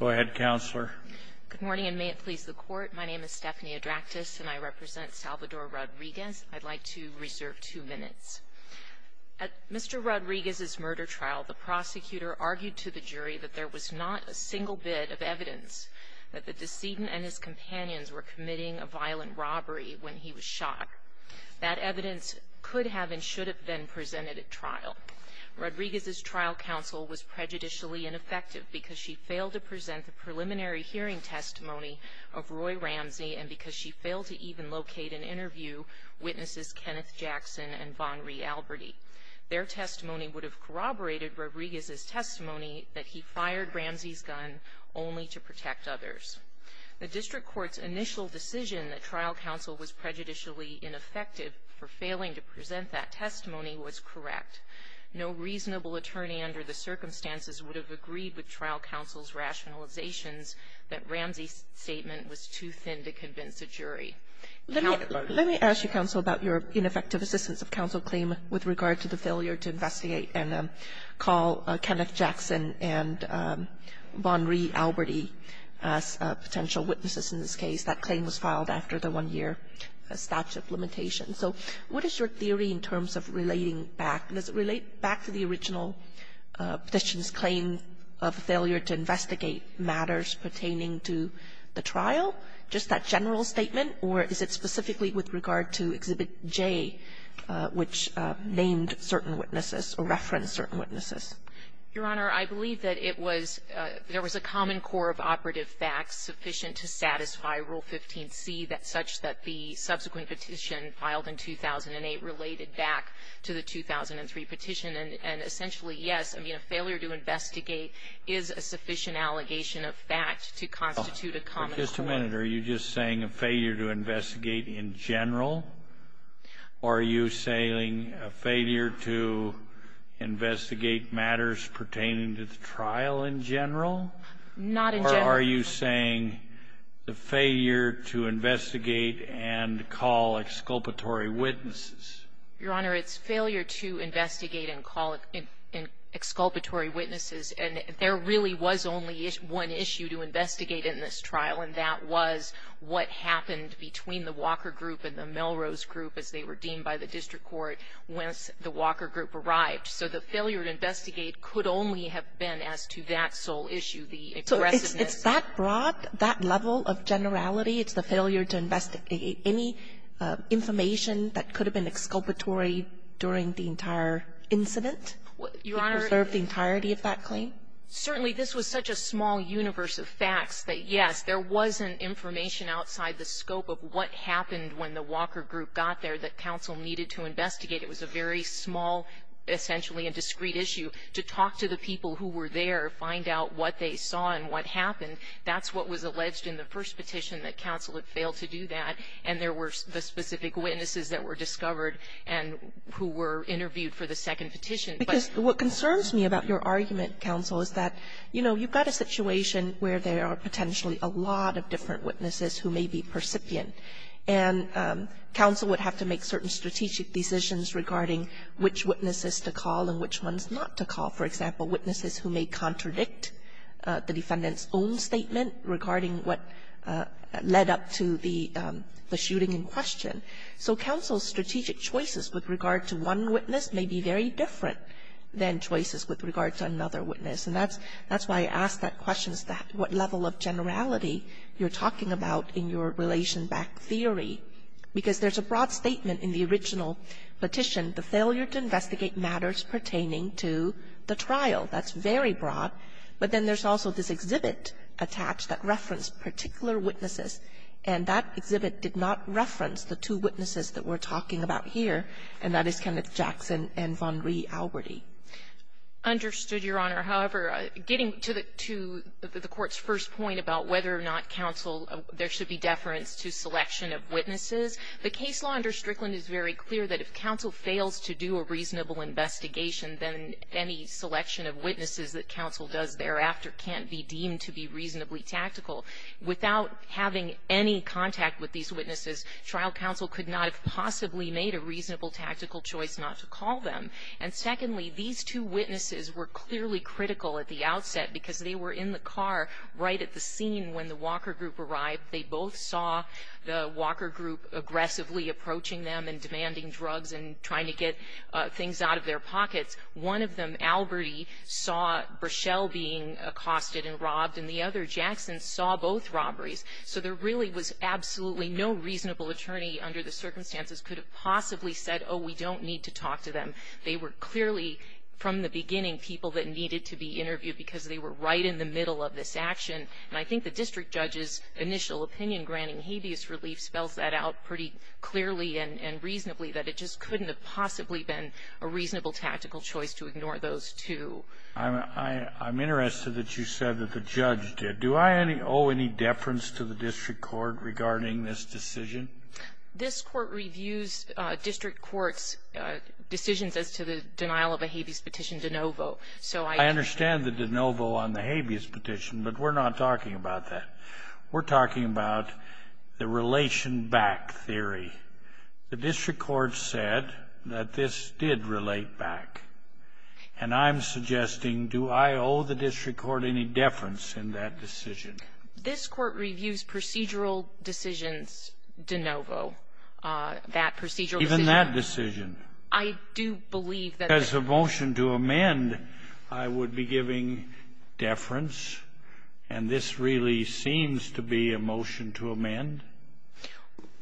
At Mr. Rodriguez's murder trial, the prosecutor argued to the jury that there was not a single bit of evidence that the decedent and his companions were committing a violent robbery when he was shot. That evidence could have and should have been presented at trial. Rodriguez's trial counsel was prejudicially ineffective because she failed to present the preliminary hearing testimony of Roy Ramsey and because she failed to even locate and interview witnesses Kenneth Jackson and Von Rieh-Alberti. Their testimony would have corroborated Rodriguez's testimony that he fired Ramsey's gun only to protect others. The district court's initial decision that trial counsel was prejudicially ineffective for failing to present that testimony was correct. No reasonable attorney under the circumstances would have agreed with trial counsel's rationalizations that Ramsey's statement was too thin to convince a jury. Kagan. Let me ask you, counsel, about your ineffective assistance of counsel claim with regard to the failure to investigate and call Kenneth Jackson and Von Rieh-Alberti as potential witnesses in this case. That claim was filed after the one-year statute limitation. So what is your theory in terms of relating back? Does it relate back to the original petition's claim of failure to investigate matters pertaining to the trial, just that general statement, or is it specifically with regard to Exhibit J, which named certain witnesses or referenced certain witnesses? Your Honor, I believe that it was there was a common core of operative facts sufficient to satisfy Rule 15c such that the subsequent petition filed in 2008 related back to the 2003 petition. And essentially, yes. I mean, a failure to investigate is a sufficient allegation of fact to constitute a common core. Just a minute. Are you just saying a failure to investigate in general, or are you saying a failure to investigate matters pertaining to the trial in general? Not in general. Or are you saying the failure to investigate and call exculpatory witnesses? Your Honor, it's failure to investigate and call exculpatory witnesses. And there really was only one issue to investigate in this trial, and that was what happened between the Walker Group and the Melrose Group, as they were deemed by the district court, once the Walker Group arrived. So the failure to investigate could only have been as to that sole issue, the aggressiveness. So it's that broad, that level of generality? It's the failure to investigate any information that could have been exculpatory during the entire incident? Your Honor to preserve the entirety of that claim? Certainly. This was such a small universe of facts that, yes, there was an information outside the scope of what happened when the Walker Group got there that counsel needed to investigate. It was a very small, essentially a discrete issue, to talk to the people who were there, find out what they saw and what happened. And that's what was alleged in the first petition, that counsel had failed to do that. And there were the specific witnesses that were discovered and who were interviewed for the second petition. But what concerns me about your argument, counsel, is that, you know, you've got a situation where there are potentially a lot of different witnesses who may be percipient. And counsel would have to make certain strategic decisions regarding which witnesses to call and which ones not to call. For example, witnesses who may contradict the defendant's own statement regarding what led up to the shooting in question. So counsel's strategic choices with regard to one witness may be very different than choices with regard to another witness. And that's why I ask that question, what level of generality you're talking about in your relation-backed theory, because there's a broad statement in the original petition, the failure to investigate matters pertaining to the trial. That's very broad. But then there's also this exhibit attached that referenced particular witnesses. And that exhibit did not reference the two witnesses that we're talking about here, and that is Kenneth Jackson and Von Reh-Alberti. Understood, Your Honor. However, getting to the court's first point about whether or not counsel or there should be deference to selection of witnesses, the case law under Strickland is very clear that if counsel fails to do a reasonable investigation, then any selection of witnesses that counsel does thereafter can't be deemed to be reasonably tactical. Without having any contact with these witnesses, trial counsel could not have possibly made a reasonable tactical choice not to call them. And secondly, these two witnesses were clearly critical at the outset because they were in the car right at the scene when the Walker group arrived. They both saw the Walker group aggressively approaching them and demanding drugs and trying to get things out of their pockets. One of them, Alberti, saw Braschel being accosted and robbed, and the other, Jackson, saw both robberies. So there really was absolutely no reasonable attorney under the circumstances could have possibly said, oh, we don't need to talk to them. They were clearly, from the beginning, people that needed to be interviewed because they were right in the middle of this action. And I think the district judge's initial opinion granting habeas relief spells that out pretty clearly and reasonably, that it just couldn't have possibly been a reasonable tactical choice to ignore those two. I'm interested that you said that the judge did. Do I owe any deference to the district court regarding this decision? This Court reviews district courts' decisions as to the denial of a habeas petition de novo. So I can't say that. We're talking about the relation back theory. The district court said that this did relate back, and I'm suggesting do I owe the district court any deference in that decision? This Court reviews procedural decisions de novo, that procedural decision. Even that decision. I do believe that. If it was a motion to amend, I would be giving deference. And this really seems to be a motion to amend.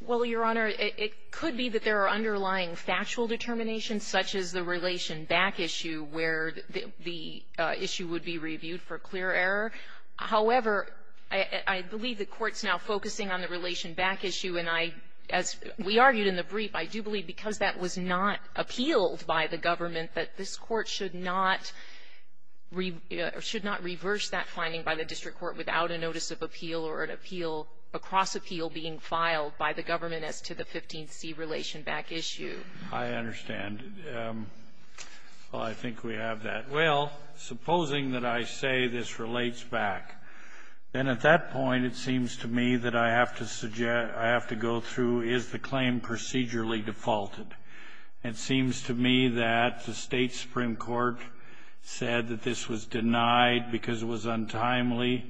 Well, Your Honor, it could be that there are underlying factual determinations, such as the relation back issue, where the issue would be reviewed for clear error. However, I believe the Court's now focusing on the relation back issue, and I, as we that this Court should not reverse that finding by the district court without a notice of appeal or an appeal, a cross-appeal being filed by the government as to the 15C relation back issue. I understand. Well, I think we have that. Well, supposing that I say this relates back, then at that point, it seems to me that I have to suggest, I have to go through, is the claim procedurally defaulted? It seems to me that the State supreme court said that this was denied because it was untimely,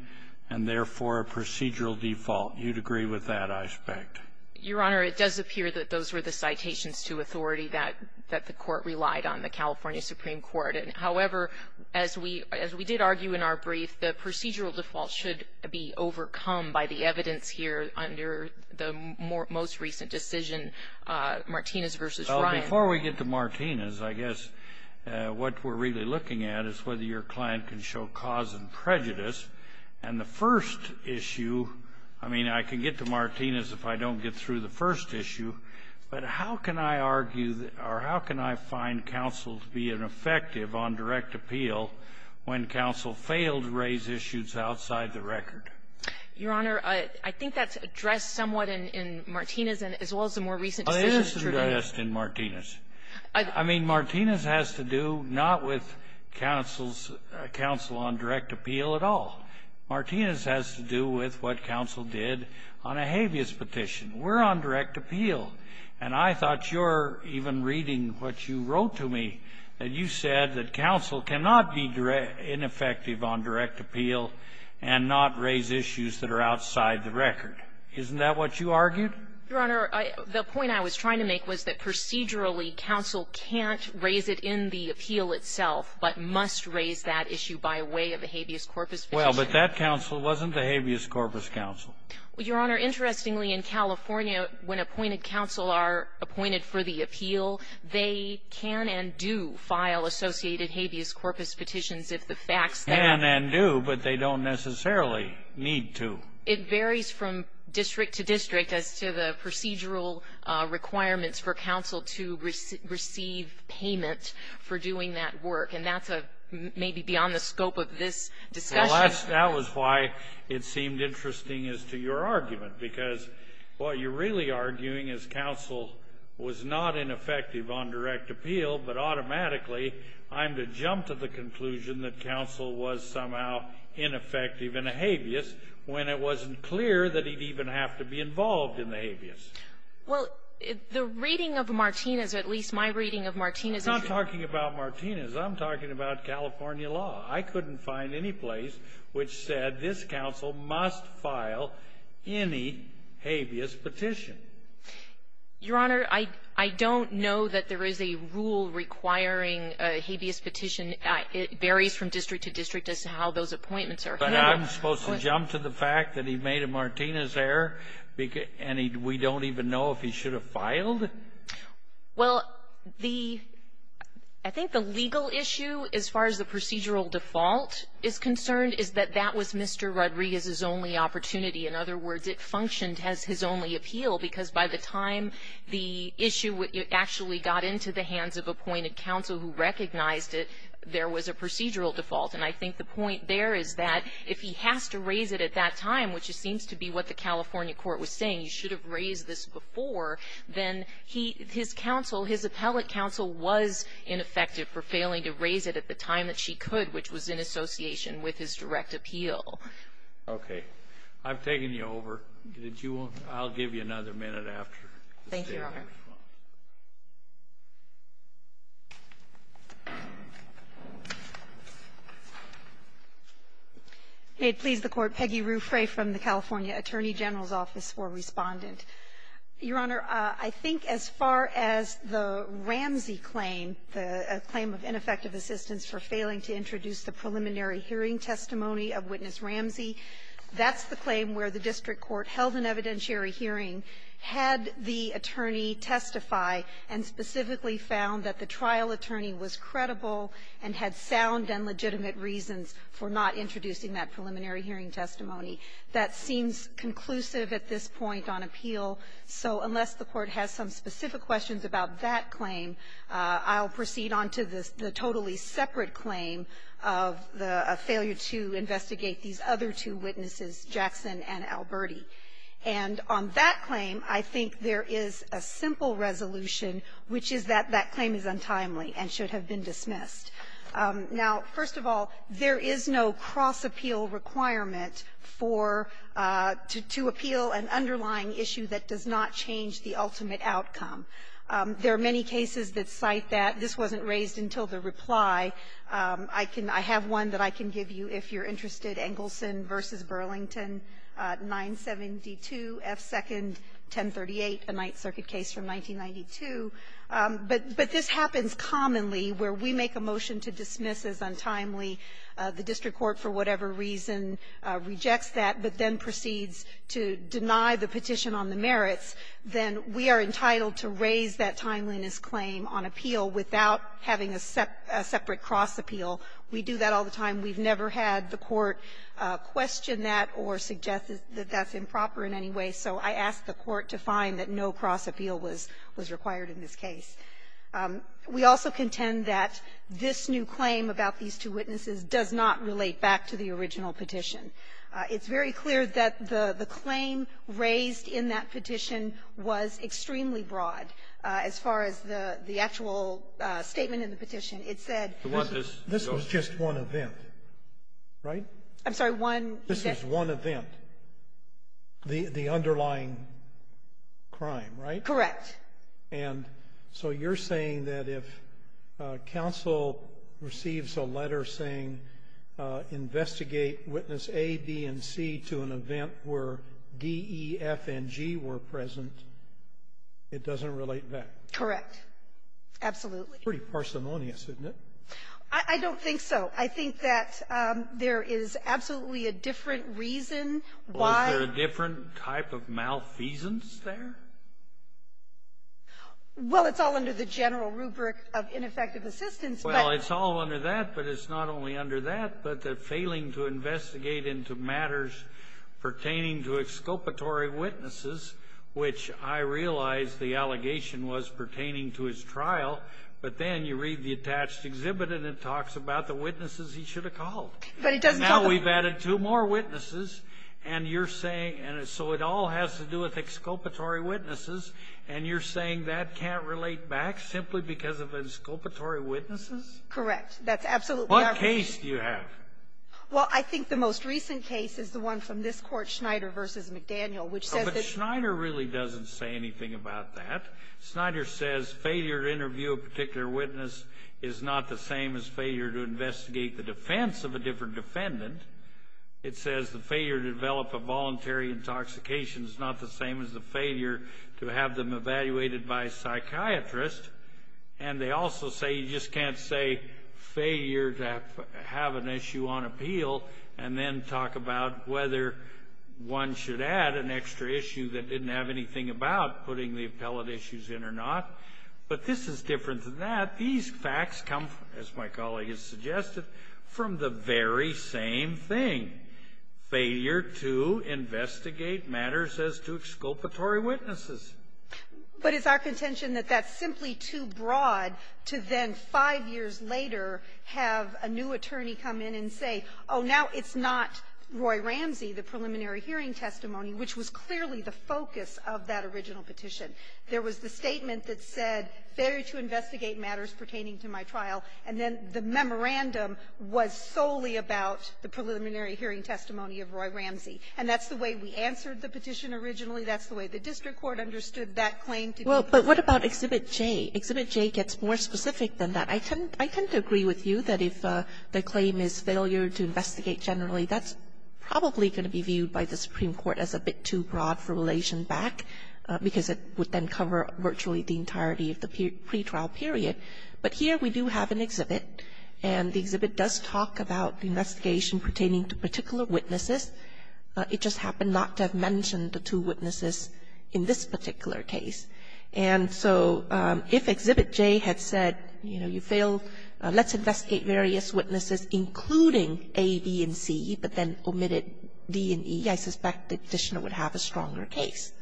and therefore, a procedural default. You'd agree with that aspect? Your Honor, it does appear that those were the citations to authority that the Court relied on, the California supreme court. However, as we did argue in our brief, the procedural default should be overcome by the evidence here under the most recent decision, Martinez v. Ryan. Well, before we get to Martinez, I guess what we're really looking at is whether your client can show cause and prejudice. And the first issue, I mean, I can get to Martinez if I don't get through the first issue, but how can I argue, or how can I find counsel to be ineffective on direct appeal when counsel failed to raise issues outside the record? Your Honor, I think that's addressed somewhat in Martinez, as well as the more recent decision. It is addressed in Martinez. I mean, Martinez has to do not with counsel's counsel on direct appeal at all. Martinez has to do with what counsel did on a habeas petition. We're on direct appeal. And I thought you're even reading what you wrote to me, that you said that counsel cannot be ineffective on direct appeal and not raise issues that are outside the record. Isn't that what you argued? Your Honor, the point I was trying to make was that procedurally, counsel can't raise it in the appeal itself, but must raise that issue by way of a habeas corpus petition. Well, but that counsel wasn't the habeas corpus counsel. Your Honor, interestingly, in California, when appointed counsel are appointed for the appeal, they can and do file associated habeas corpus petitions if the facts that they do. Can and do, but they don't necessarily need to. It varies from district to district as to the procedural requirements for counsel to receive payment for doing that work. And that's maybe beyond the scope of this discussion. Well, that was why it seemed interesting as to your argument, because what you're really arguing is counsel was not ineffective on direct appeal, but automatically I'm to jump to the conclusion that counsel was somehow ineffective in a habeas when it wasn't clear that he'd even have to be involved in the habeas. Well, the reading of Martinez, or at least my reading of Martinez issues — I'm not talking about Martinez. I'm talking about California law. I couldn't find any place which said this counsel must file any habeas petition. Your Honor, I don't know that there is a rule requiring a habeas petition. It varies from district to district as to how those appointments are handled. But I'm supposed to jump to the fact that he made a Martinez error, and we don't even know if he should have filed? Well, the — I think the legal issue, as far as the procedural default is concerned, is that that was Mr. Rodriguez's only opportunity. In other words, it functioned as his only appeal, because by the time the issue actually got into the hands of appointed counsel who recognized it, there was a procedural default. And I think the point there is that if he has to raise it at that time, which it seems to be what the California court was saying, you should have raised this before, then he — his counsel, his appellate counsel, was ineffective for failing to raise it at the time that she could, which was in association with his direct appeal. Okay. I've taken you over. Did you want to — I'll give you another minute after the State's response. Thank you, Your Honor. May it please the Court. Peggy Ruffray from the California Attorney General's Office for Respondent. Your Honor, I think as far as the Ramsey claim, the claim of ineffective assistance for failing to introduce the preliminary hearing testimony of Witness Ramsey, that's the claim where the district court held an evidentiary hearing, had the attorney testify, and specifically found that the trial attorney was credible and had sound and legitimate reasons for not introducing that preliminary hearing testimony. That seems conclusive at this point on appeal. So unless the Court has some specific questions about that claim, I'll proceed on to the totally separate claim of the failure to investigate these other two witnesses, Jackson and Alberti. And on that claim, I think there is a simple resolution, which is that that claim is untimely and should have been dismissed. Now, first of all, there is no cross-appeal requirement for — to appeal an underlying issue that does not change the ultimate outcome. There are many cases that cite that. This wasn't raised until the reply. I can — I have one that I can give you if you're interested, Engelson v. Burlington, 972 F. Second, 1038, a Ninth Circuit case from 1992. But this happens commonly where we make a motion to dismiss as untimely. The district court, for whatever reason, rejects that, but then proceeds to deny the petition on the merits. Then we are entitled to raise that timeliness claim on appeal without having a separate cross-appeal. We do that all the time. We've never had the Court question that or suggest that that's improper in any way. So I ask the Court to find that no cross-appeal was required in this case. We also contend that this new claim about these two witnesses does not relate back to the original petition. It's very clear that the claim raised in that petition was extremely broad. As far as the actual statement in the petition, it said — Right? I'm sorry, one — This was one event. The underlying crime, right? Correct. And so you're saying that if counsel receives a letter saying, investigate Witness A, B, and C to an event where D, E, F, and G were present, it doesn't relate back? Correct. Absolutely. Pretty parsimonious, isn't it? I don't think so. I think that there is absolutely a different reason why — Was there a different type of malfeasance there? Well, it's all under the general rubric of ineffective assistance, but — Well, it's all under that, but it's not only under that, but the failing to investigate into matters pertaining to exculpatory witnesses, which I realize the allegation was pertaining to his trial, but then you read the attached exhibit, and it talks about the witnesses he should have called. But it doesn't tell the — Now we've added two more witnesses, and you're saying — and so it all has to do with exculpatory witnesses, and you're saying that can't relate back simply because of exculpatory witnesses? Correct. That's absolutely our — What case do you have? Well, I think the most recent case is the one from this Court, Schneider v. McDaniel, which says that — But Schneider really doesn't say anything about that. Schneider says failure to interview a particular witness is not the same as failure to investigate the defense of a different defendant. It says the failure to develop a voluntary intoxication is not the same as the failure to have them evaluated by a psychiatrist. And they also say you just can't say failure to have an issue on appeal and then talk about whether one should add an extra issue that didn't have anything about putting the appellate issues in or not. But this is different than that. These facts come, as my colleague has suggested, from the very same thing, failure to investigate matters as to exculpatory witnesses. But it's our contention that that's simply too broad to then, five years later, have a new attorney come in and say, oh, now it's not Roy Ramsey, the preliminary hearing testimony, which was clearly the focus of that original petition. There was the statement that said, failure to investigate matters pertaining to my trial, and then the memorandum was solely about the preliminary hearing testimony of Roy Ramsey. And that's the way we answered the petition originally. That's the way the district court understood that claim to be. Kagan. Kagan. But what about Exhibit J? Exhibit J gets more specific than that. I tend to agree with you that if the claim is failure to investigate generally, that's probably going to be viewed by the Supreme Court as a bit too broad for relation back, because it would then cover virtually the entirety of the pretrial period. But here we do have an exhibit, and the exhibit does talk about the investigation pertaining to particular witnesses. It just happened not to have mentioned the two witnesses in this particular case. And so if Exhibit J had said, you know, you failed, let's investigate various witnesses, including A, B, and C, but then omitted D and E, I suspect the Petitioner would have a stronger case.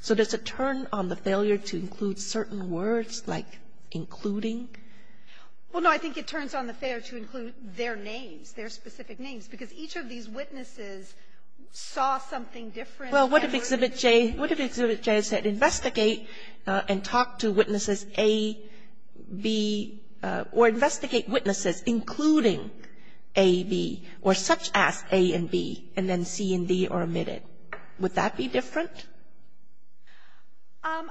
So does it turn on the failure to include certain words, like including? Well, no. I think it turns on the failure to include their names, their specific names. Because each of these witnesses saw something different. Well, what if Exhibit J said investigate and talk to witnesses A, B, or investigate witnesses including A, B, or such as A and B, and then C and D are omitted? Would that be different?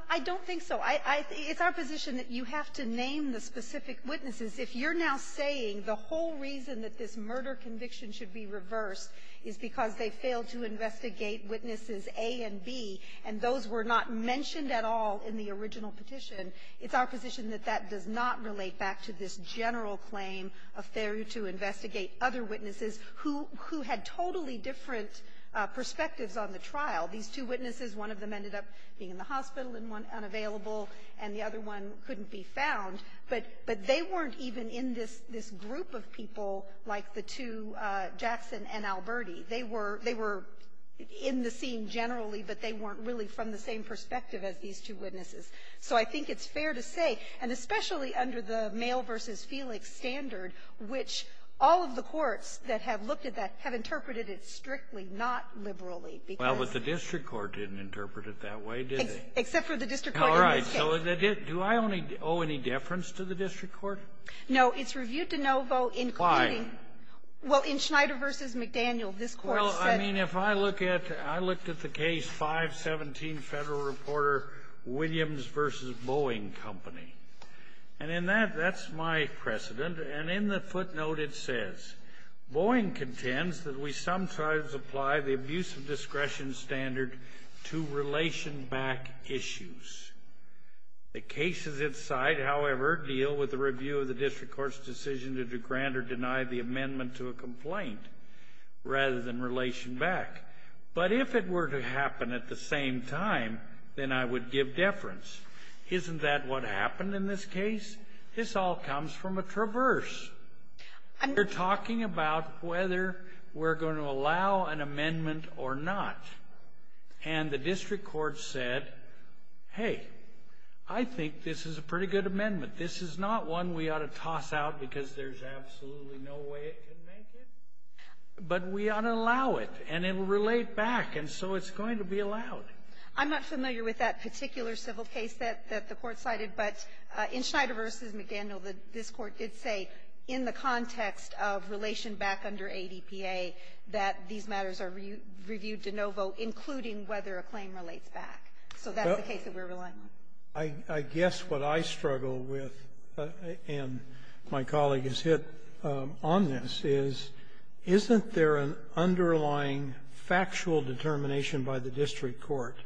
I don't think so. I think it's our position that you have to name the specific witnesses. If you're now saying the whole reason that this murder conviction should be reversed is because they failed to investigate witnesses A and B, and those were not mentioned at all in the original petition, it's our position that that does not relate back to this general claim of failure to investigate other witnesses who had totally different perspectives on the trial. These two witnesses, one of them ended up being in the hospital and unavailable, and the other one couldn't be found. But they weren't even in this group of people like the two, Jackson and Alberti. They were in the scene generally, but they weren't really from the same perspective as these two witnesses. So I think it's fair to say, and especially under the male versus Felix standard, which all of the courts that have looked at that have interpreted it strictly, not liberally, because of the district court didn't interpret it that way, did they? All right. Do I owe any deference to the district court? No. It's reviewed de novo in committee. Why? Well, in Schneider v. McDaniel, this Court said that the case 517 Federal Reporter Williams v. Boeing Company. And in that, that's my precedent. And in the footnote, it says, Boeing contends that we sometimes apply the abuse of discretion standard to relation back issues. The cases inside, however, deal with the review of the district court's decision to grant or deny the amendment to a complaint rather than relation back. But if it were to happen at the same time, then I would give deference. Isn't that what happened in this case? This all comes from a traverse. We're talking about whether we're going to allow an amendment or not. And the district court said, hey, I think this is a pretty good amendment. This is not one we ought to toss out because there's absolutely no way it can make it. But we ought to allow it, and it will relate back. And so it's going to be allowed. I'm not familiar with that particular civil case that the Court cited. But in Schneider v. McDaniel, this Court did say in the context of relation back under ADPA that these matters are reviewed de novo, including whether a claim relates back. So that's the case that we're relying on. I guess what I struggle with, and my colleague has hit on this, is, isn't there an underlying factual determination by the district court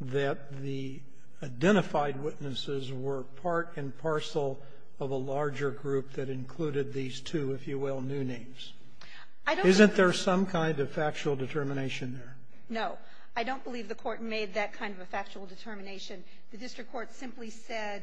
that the identified witnesses were part and parcel of a larger group that included these two, if you will, new names? Isn't there some kind of factual determination there? No. I don't believe the Court made that kind of a factual determination. The district court simply said,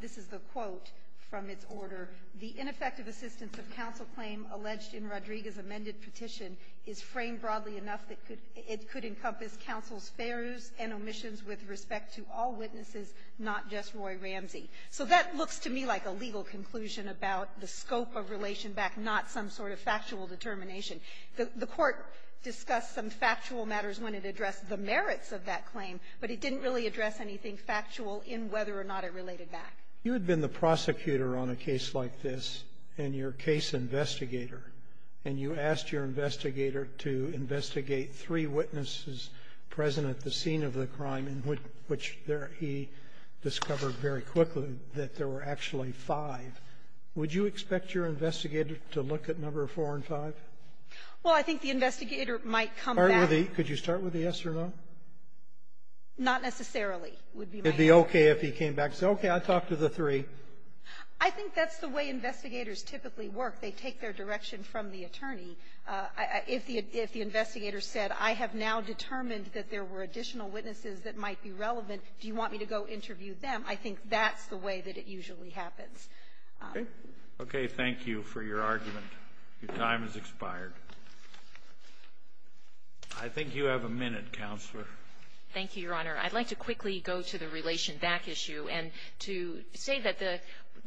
this is the quote from its order, "...the ineffective assistance of counsel claim alleged in Rodriguez's amended petition is framed broadly enough that it could encompass counsel's fares and omissions with respect to all witnesses, not just Roy Ramsey." So that looks to me like a legal conclusion about the scope of relation back, not some sort of factual determination. The Court discussed some factual matters when it addressed the merits of that claim, but it didn't really address anything factual in whether or not it related back. You had been the prosecutor on a case like this, and your case investigator. And you asked your investigator to investigate three witnesses present at the scene of the crime, in which he discovered very quickly that there were actually five. Would you expect your investigator to look at number four and five? Well, I think the investigator might come back. Could you start with the yes or no? Not necessarily would be my answer. It would be okay if he came back and said, okay, I talked to the three. I think that's the way investigators typically work. They take their direction from the attorney. If the investigator said, I have now determined that there were additional witnesses that might be relevant, do you want me to go interview them, I think that's the way that it usually happens. Okay. Okay. Thank you for your argument. Your time has expired. I think you have a minute, Counselor. Thank you, Your Honor. I'd like to quickly go to the relation back issue. And to say that the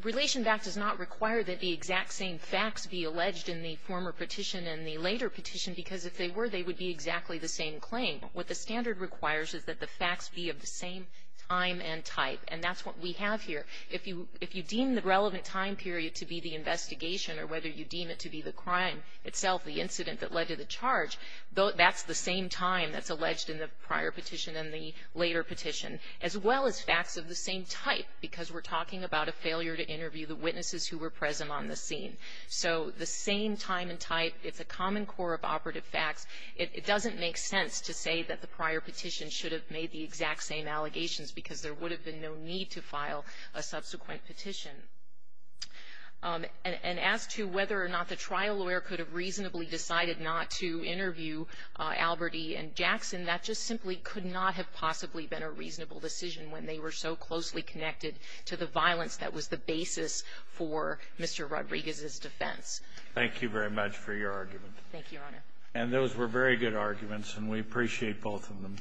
relation back does not require that the exact same facts be alleged in the former petition and the later petition, because if they were, they would be exactly the same claim. What the standard requires is that the facts be of the same time and type. And that's what we have here. If you deem the relevant time period to be the investigation or whether you deem it to be the crime itself, the incident that led to the charge, that's the same time that's alleged in the prior petition and the later petition, as well as facts of the same type, because we're talking about a failure to interview the witnesses who were present on the scene. So the same time and type, it's a common core of operative facts. It doesn't make sense to say that the prior petition should have made the exact same allegations, because there would have been no need to file a subsequent petition. And as to whether or not the trial lawyer could have reasonably decided not to interview Alberti and Jackson, that just simply could not have possibly been a reasonable decision when they were so closely connected to the violence that was the basis for Mr. Rodriguez's defense. Thank you very much for your argument. Thank you, Your Honor. And those were very good arguments, and we appreciate both of them.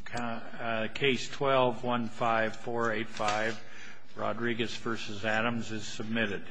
Case 12-15485, Rodriguez v. Adams, is submitted.